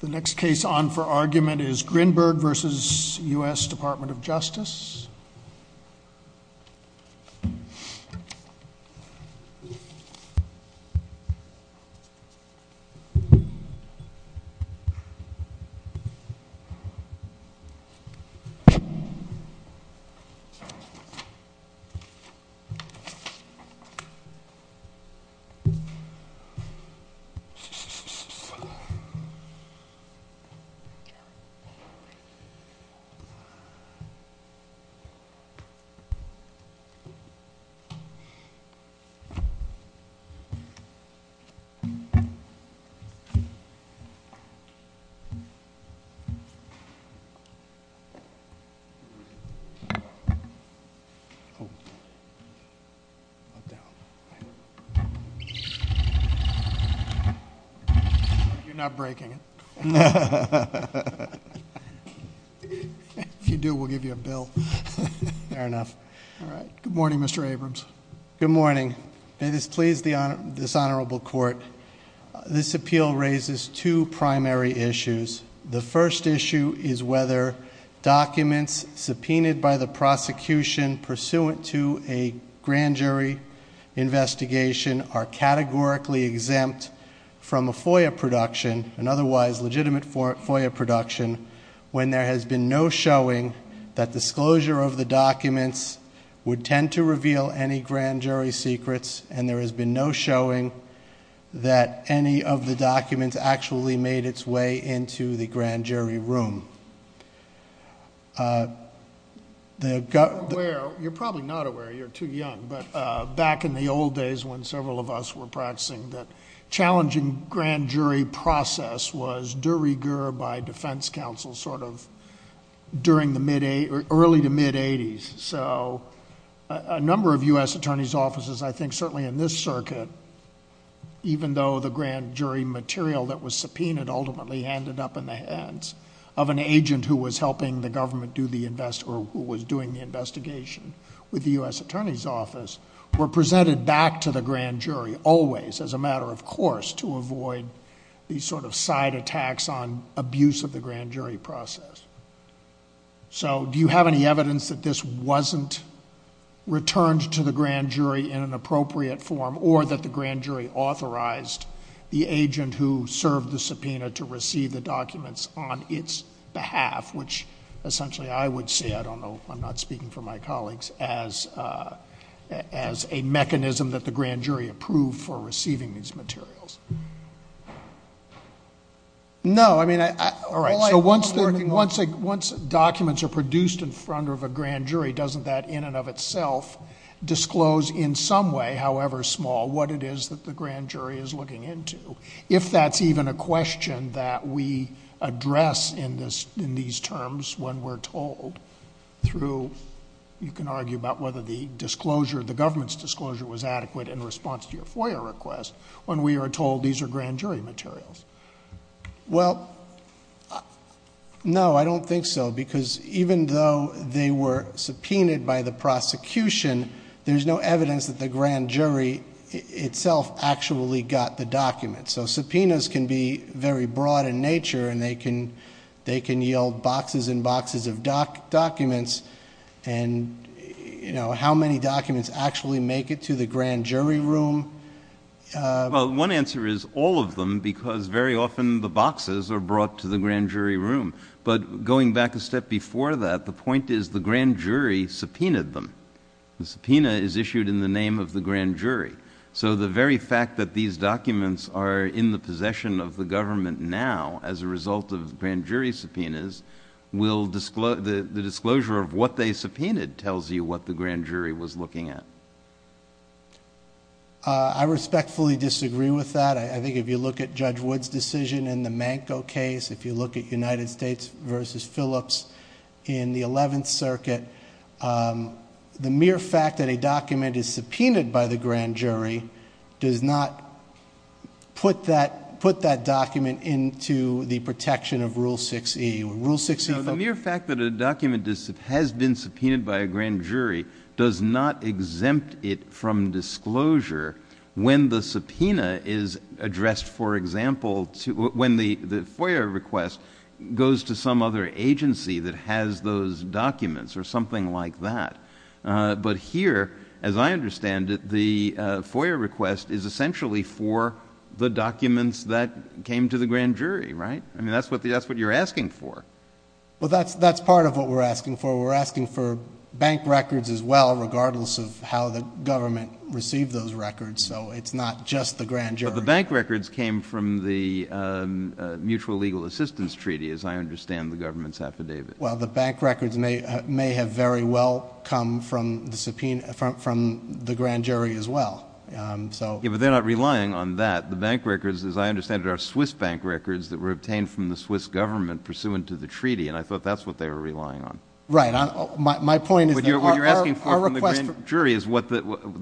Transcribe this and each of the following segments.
The next case on for argument is Grynberg v. U.S. Department of Justice. This is a case of the U.S. Department of Justice v. U.S. Department of Justice. You're not breaking it. If you do, we'll give you a bill. Fair enough. All right. Good morning, Mr. Abrams. Good morning. May this please this honorable court. This appeal raises two primary issues. The first issue is whether documents subpoenaed by the prosecution pursuant to a grand jury investigation are categorically exempt from a FOIA production, an otherwise legitimate FOIA production, when there has been no showing that disclosure of the documents would tend to reveal any grand jury secrets, and there has been no showing that any of the documents actually made its way into the grand jury room. You're probably not aware, you're too young, but back in the old days when several of us were practicing, the challenging grand jury process was de rigueur by defense counsel sort of early to mid-eighties. A number of U.S. attorney's offices, I think certainly in this circuit, even though the grand jury material that was subpoenaed ultimately ended up in the hands of an agent who was helping the government do the invest— or who was doing the investigation with the U.S. attorney's office, were presented back to the grand jury always, as a matter of course, to avoid these sort of side attacks on abuse of the grand jury process. So do you have any evidence that this wasn't returned to the grand jury in an appropriate form, or that the grand jury authorized the agent who served the subpoena to receive the documents on its behalf, which essentially I would say—I don't know, I'm not speaking for my colleagues— as a mechanism that the grand jury approved for receiving these materials? No, I mean—all right, so once documents are produced in front of a grand jury, doesn't that in and of itself disclose in some way, however small, what it is that the grand jury is looking into? If that's even a question that we address in these terms when we're told through— you can argue about whether the government's disclosure was adequate in response to your FOIA request. When we are told these are grand jury materials. Well, no, I don't think so, because even though they were subpoenaed by the prosecution, there's no evidence that the grand jury itself actually got the documents. So subpoenas can be very broad in nature, and they can yield boxes and boxes of documents, and how many documents actually make it to the grand jury room? Well, one answer is all of them, because very often the boxes are brought to the grand jury room. But going back a step before that, the point is the grand jury subpoenaed them. The subpoena is issued in the name of the grand jury. So the very fact that these documents are in the possession of the government now as a result of grand jury subpoenas, the disclosure of what they subpoenaed tells you what the grand jury was looking at. I respectfully disagree with that. I think if you look at Judge Wood's decision in the Manco case, if you look at United States v. Phillips in the Eleventh Circuit, the mere fact that a document is subpoenaed by the grand jury does not put that document into the protection of Rule 6E. Rule 6E, folks? The mere fact that a document has been subpoenaed by a grand jury does not exempt it from disclosure when the subpoena is addressed, for example, when the FOIA request goes to some other agency that has those documents or something like that. But here, as I understand it, the FOIA request is essentially for the documents that came to the grand jury, right? I mean, that's what you're asking for. Well, that's part of what we're asking for. We're asking for bank records as well, regardless of how the government received those records, so it's not just the grand jury. But the bank records came from the Mutual Legal Assistance Treaty, as I understand the government's affidavit. Well, the bank records may have very well come from the grand jury as well. Yeah, but they're not relying on that. The bank records, as I understand it, are Swiss bank records that were obtained from the Swiss government pursuant to the treaty, and I thought that's what they were relying on. Right. My point is that our request for the grand jury is the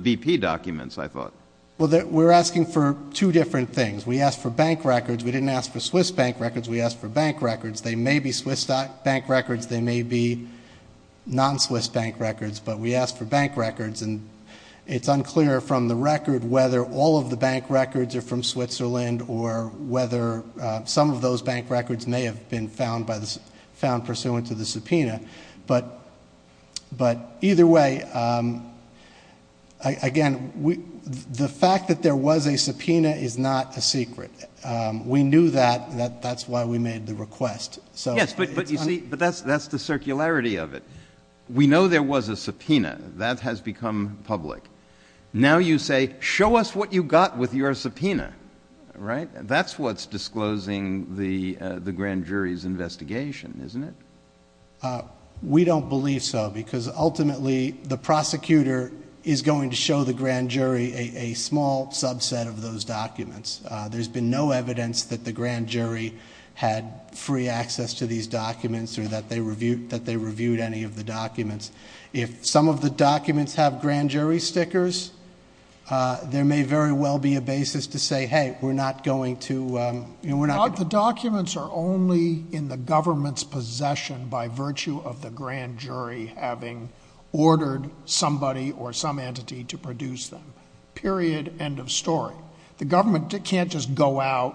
BP documents, I thought. Well, we're asking for two different things. We asked for bank records. We didn't ask for Swiss bank records. We asked for bank records. They may be Swiss bank records. They may be non-Swiss bank records. But we asked for bank records, and it's unclear from the record whether all of the bank records are from Switzerland or whether some of those bank records may have been found pursuant to the subpoena. But either way, again, the fact that there was a subpoena is not a secret. We knew that. That's why we made the request. Yes, but you see, that's the circularity of it. We know there was a subpoena. That has become public. Now you say, show us what you got with your subpoena, right? That's what's disclosing the grand jury's investigation, isn't it? We don't believe so because ultimately the prosecutor is going to show the grand jury a small subset of those documents. There's been no evidence that the grand jury had free access to these documents or that they reviewed any of the documents. If some of the documents have grand jury stickers, there may very well be a basis to say, hey, we're not going to, you know, we're not going to. The documents are only in the government's possession by virtue of the grand jury having ordered somebody or some entity to produce them. Period. End of story. The government can't just go out,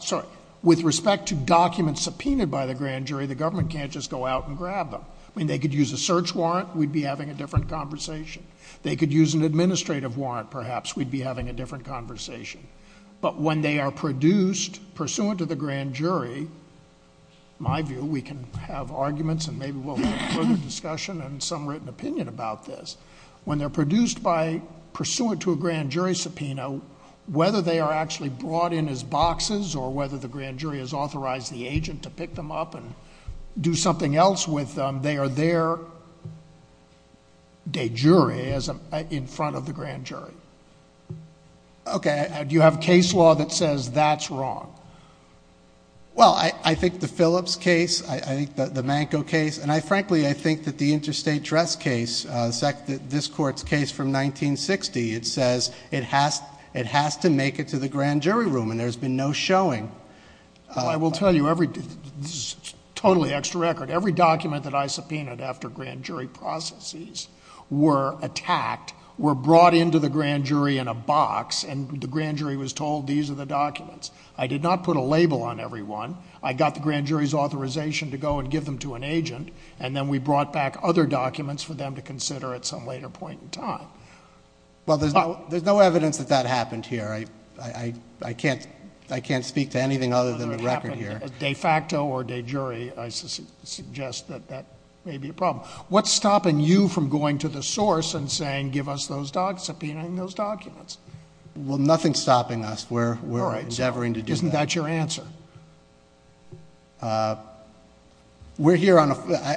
sorry, with respect to documents subpoenaed by the grand jury, the government can't just go out and grab them. I mean, they could use a search warrant, we'd be having a different conversation. They could use an administrative warrant, perhaps, we'd be having a different conversation. But when they are produced pursuant to the grand jury, my view, we can have arguments and maybe we'll have further discussion and some written opinion about this. When they're produced by, pursuant to a grand jury subpoena, whether they are actually brought in as boxes or whether the grand jury has authorized the agent to pick them up and do something else with them, they are their de jure in front of the grand jury. Okay. Do you have case law that says that's wrong? Well, I think the Phillips case, I think the Manco case, and I frankly, I think that the interstate dress case, this court's case from 1960, it says it has to make it to the grand jury room and there's been no showing. I will tell you, this is totally extra record. Every document that I subpoenaed after grand jury processes were attacked, were brought into the grand jury in a box, and the grand jury was told these are the documents. I did not put a label on every one. I got the grand jury's authorization to go and give them to an agent, and then we brought back other documents for them to consider at some later point in time. Well, there's no evidence that that happened here. I can't speak to anything other than the record here. De facto or de jure, I suggest that that may be a problem. What's stopping you from going to the source and saying give us those documents, subpoenaing those documents? Well, nothing's stopping us. We're endeavoring to do that. All right. So isn't that your answer? We're here on a...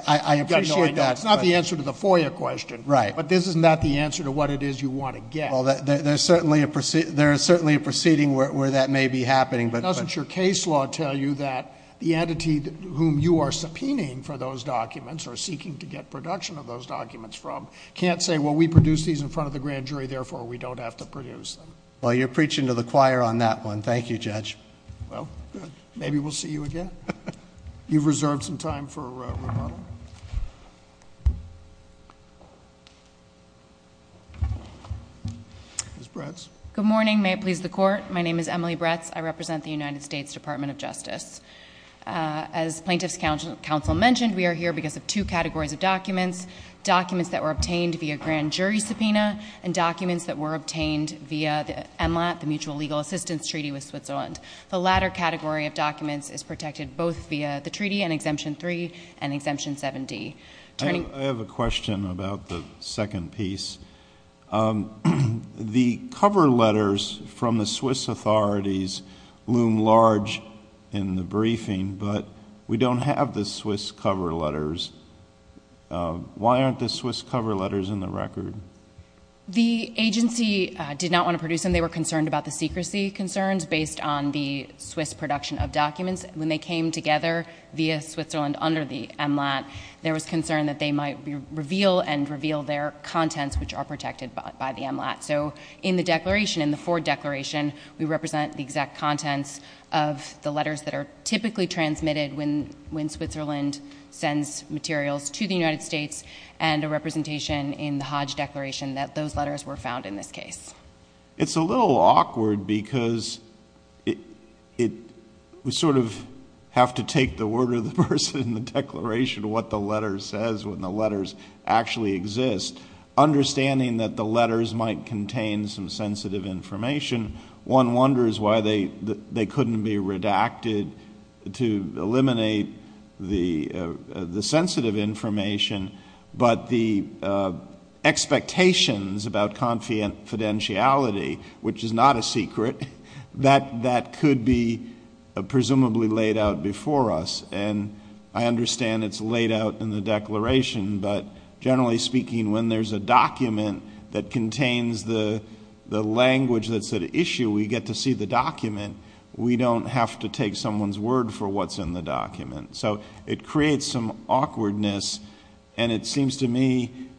I appreciate that. I know, I know. It's not the answer to the FOIA question. Right. But isn't that the answer to what it is you want to get? Well, there is certainly a proceeding where that may be happening, but... Doesn't your case law tell you that the entity whom you are subpoenaing for those documents, or seeking to get production of those documents from, can't say, well, we produced these in front of the grand jury, therefore we don't have to produce them? Well, you're preaching to the choir on that one. Thank you, Judge. Well, good. Maybe we'll see you again. You've reserved some time for rebuttal. Ms. Bretz. Good morning. May it please the Court. My name is Emily Bretz. I represent the United States Department of Justice. As Plaintiff's Counsel mentioned, we are here because of two categories of documents, documents that were obtained via grand jury subpoena, and documents that were obtained via the MLAT, the Mutual Legal Assistance Treaty with Switzerland. The latter category of documents is protected both via the treaty and Exemption 3 and Exemption 7D. I have a question about the second piece. The cover letters from the Swiss authorities loom large in the briefing, but we don't have the Swiss cover letters. Why aren't the Swiss cover letters in the record? The agency did not want to produce them. They were concerned about the secrecy concerns based on the Swiss production of documents. When they came together via Switzerland under the MLAT, there was concern that they might reveal and reveal their contents, which are protected by the MLAT. So in the declaration, in the Ford Declaration, we represent the exact contents of the letters that are typically transmitted when Switzerland sends materials to the United States and a representation in the Hodge Declaration that those letters were found in this case. It's a little awkward because we sort of have to take the word of the person in the declaration, what the letter says when the letters actually exist. Understanding that the letters might contain some sensitive information, one wonders why they couldn't be redacted to eliminate the sensitive information, but the expectations about confidentiality, which is not a secret, that could be presumably laid out before us. And I understand it's laid out in the declaration, but generally speaking, when there's a document that contains the language that's at issue, we get to see the document. We don't have to take someone's word for what's in the document. So it creates some awkwardness, and it seems to me,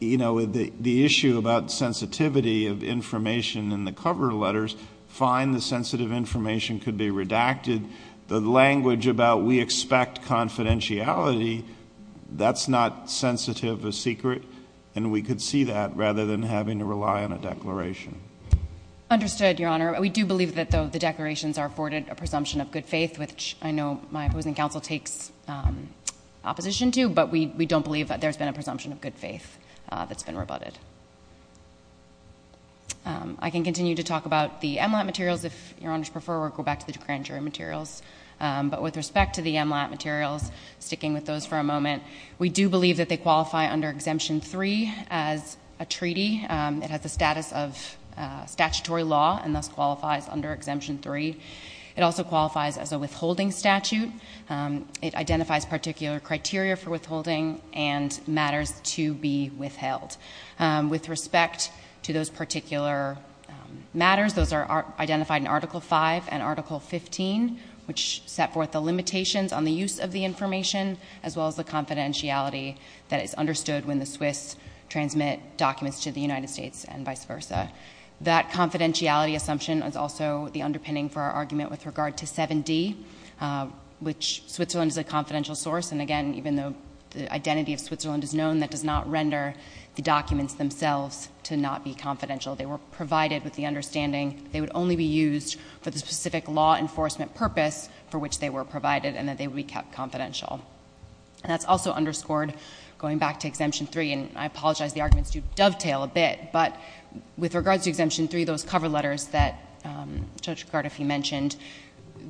you know, the issue about sensitivity of information in the cover letters, fine, the sensitive information could be redacted. The language about we expect confidentiality, that's not sensitive or secret, and we could see that rather than having to rely on a declaration. Understood, Your Honor. We do believe that, though, the declarations are afforded a presumption of good faith, which I know my opposing counsel takes opposition to, but we don't believe that there's been a presumption of good faith that's been rebutted. I can continue to talk about the MLAT materials, if Your Honors prefer, or go back to the grand jury materials. But with respect to the MLAT materials, sticking with those for a moment, we do believe that they qualify under Exemption 3 as a treaty. It has the status of statutory law and thus qualifies under Exemption 3. It also qualifies as a withholding statute. It identifies particular criteria for withholding and matters to be withheld. With respect to those particular matters, those are identified in Article 5 and Article 15, which set forth the limitations on the use of the information as well as the confidentiality that is understood when the Swiss transmit documents to the United States and vice versa. That confidentiality assumption is also the underpinning for our argument with regard to 7D, which Switzerland is a confidential source, and, again, even though the identity of Switzerland is known, that does not render the documents themselves to not be confidential. They were provided with the understanding that they would only be used for the specific law enforcement purpose for which they were provided and that they would be kept confidential. And that's also underscored, going back to Exemption 3, and I apologize, the arguments do dovetail a bit, but with regard to Exemption 3, those cover letters that Judge Gardefi mentioned,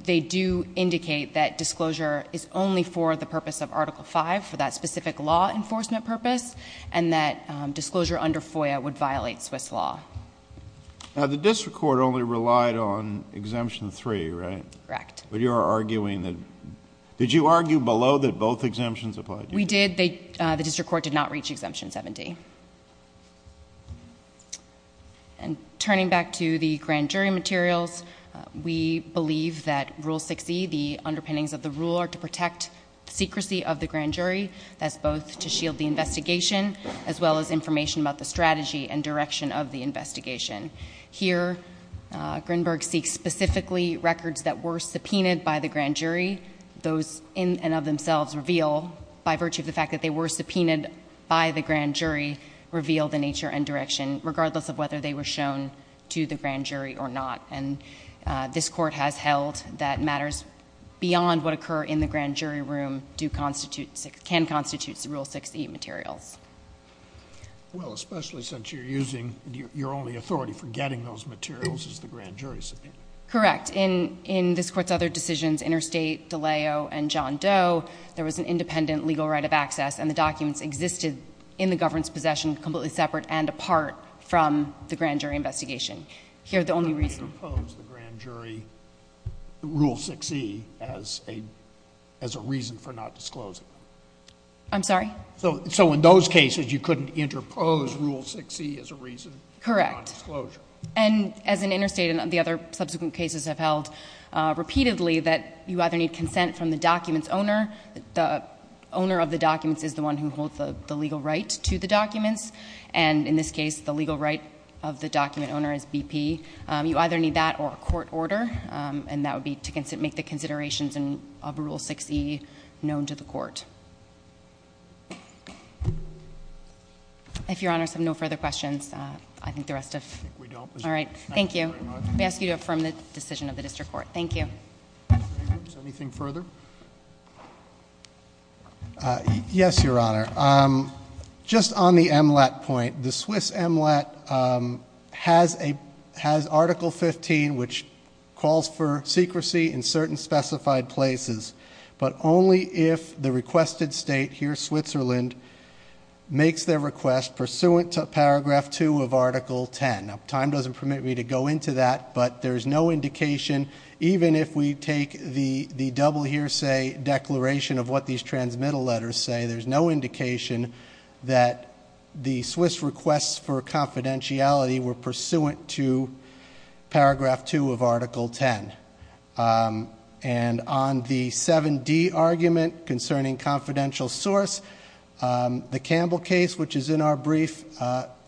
they do indicate that disclosure is only for the purpose of Article 5, for that specific law enforcement purpose, and that disclosure under FOIA would violate Swiss law. The district court only relied on Exemption 3, right? Correct. But you are arguing that — did you argue below that both exemptions applied to you? We did. The district court did not reach Exemption 7D. Thank you. And turning back to the grand jury materials, we believe that Rule 6e, the underpinnings of the rule, are to protect the secrecy of the grand jury. That's both to shield the investigation as well as information about the strategy and direction of the investigation. Here, Grinberg seeks specifically records that were subpoenaed by the grand jury. Those in and of themselves reveal, by virtue of the fact that they were subpoenaed by the grand jury, reveal the nature and direction, regardless of whether they were shown to the grand jury or not. And this Court has held that matters beyond what occur in the grand jury room do constitute — can constitute the Rule 6e materials. Well, especially since you're using — your only authority for getting those materials is the grand jury subpoena. Correct. But in this Court's other decisions, Interstate, DiLeo, and John Doe, there was an independent legal right of access, and the documents existed in the government's possession, completely separate and apart from the grand jury investigation. Here, the only reason — You couldn't interpose the grand jury Rule 6e as a — as a reason for not disclosing them. I'm sorry? So in those cases, you couldn't interpose Rule 6e as a reason for non-disclosure. Correct. And as in Interstate and the other subsequent cases I've held repeatedly, that you either need consent from the document's owner — the owner of the documents is the one who holds the legal right to the documents, and in this case, the legal right of the document owner is BP. You either need that or a court order, and that would be to make the considerations of Rule 6e known to the Court. If Your Honor has no further questions, I think the rest of — All right. Thank you. We ask you to affirm the decision of the District Court. Thank you. Anything further? Yes, Your Honor. Just on the MLAT point, the Swiss MLAT has Article 15, which calls for secrecy in certain specified places, but only if the requested state, here Switzerland, makes their request pursuant to Paragraph 2 of Article 10. Now, time doesn't permit me to go into that, but there's no indication, even if we take the double hearsay declaration of what these transmittal letters say, there's no indication that the Swiss requests for confidentiality were pursuant to Paragraph 2 of Article 10. And on the 7d argument concerning confidential source, the Campbell case, which is in our brief,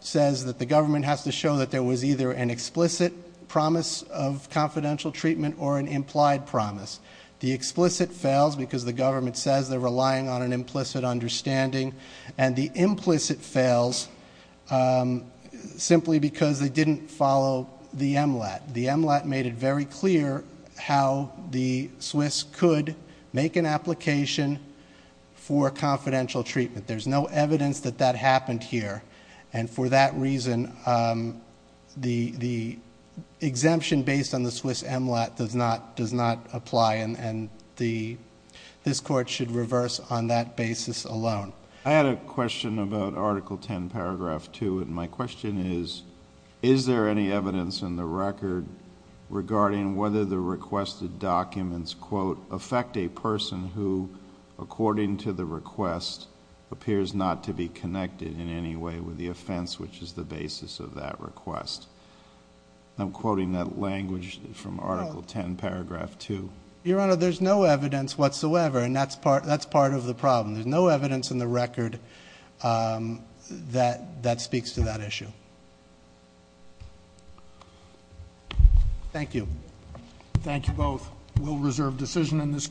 says that the government has to show that there was either an explicit promise of confidential treatment or an implied promise. The explicit fails because the government says they're relying on an implicit understanding, and the implicit fails simply because they didn't follow the MLAT. The MLAT made it very clear how the Swiss could make an application for confidential treatment. There's no evidence that that happened here, and for that reason, the exemption based on the Swiss MLAT does not apply, and this Court should reverse on that basis alone. I had a question about Article 10, Paragraph 2, and my question is, is there any evidence in the record regarding whether the requested documents, quote, affect a person who, according to the request, appears not to be connected in any way with the offense, which is the basis of that request? I'm quoting that language from Article 10, Paragraph 2. Your Honor, there's no evidence whatsoever, and that's part of the problem. There's no evidence in the record that speaks to that issue. Thank you. Thank you both. We'll reserve decision in this case.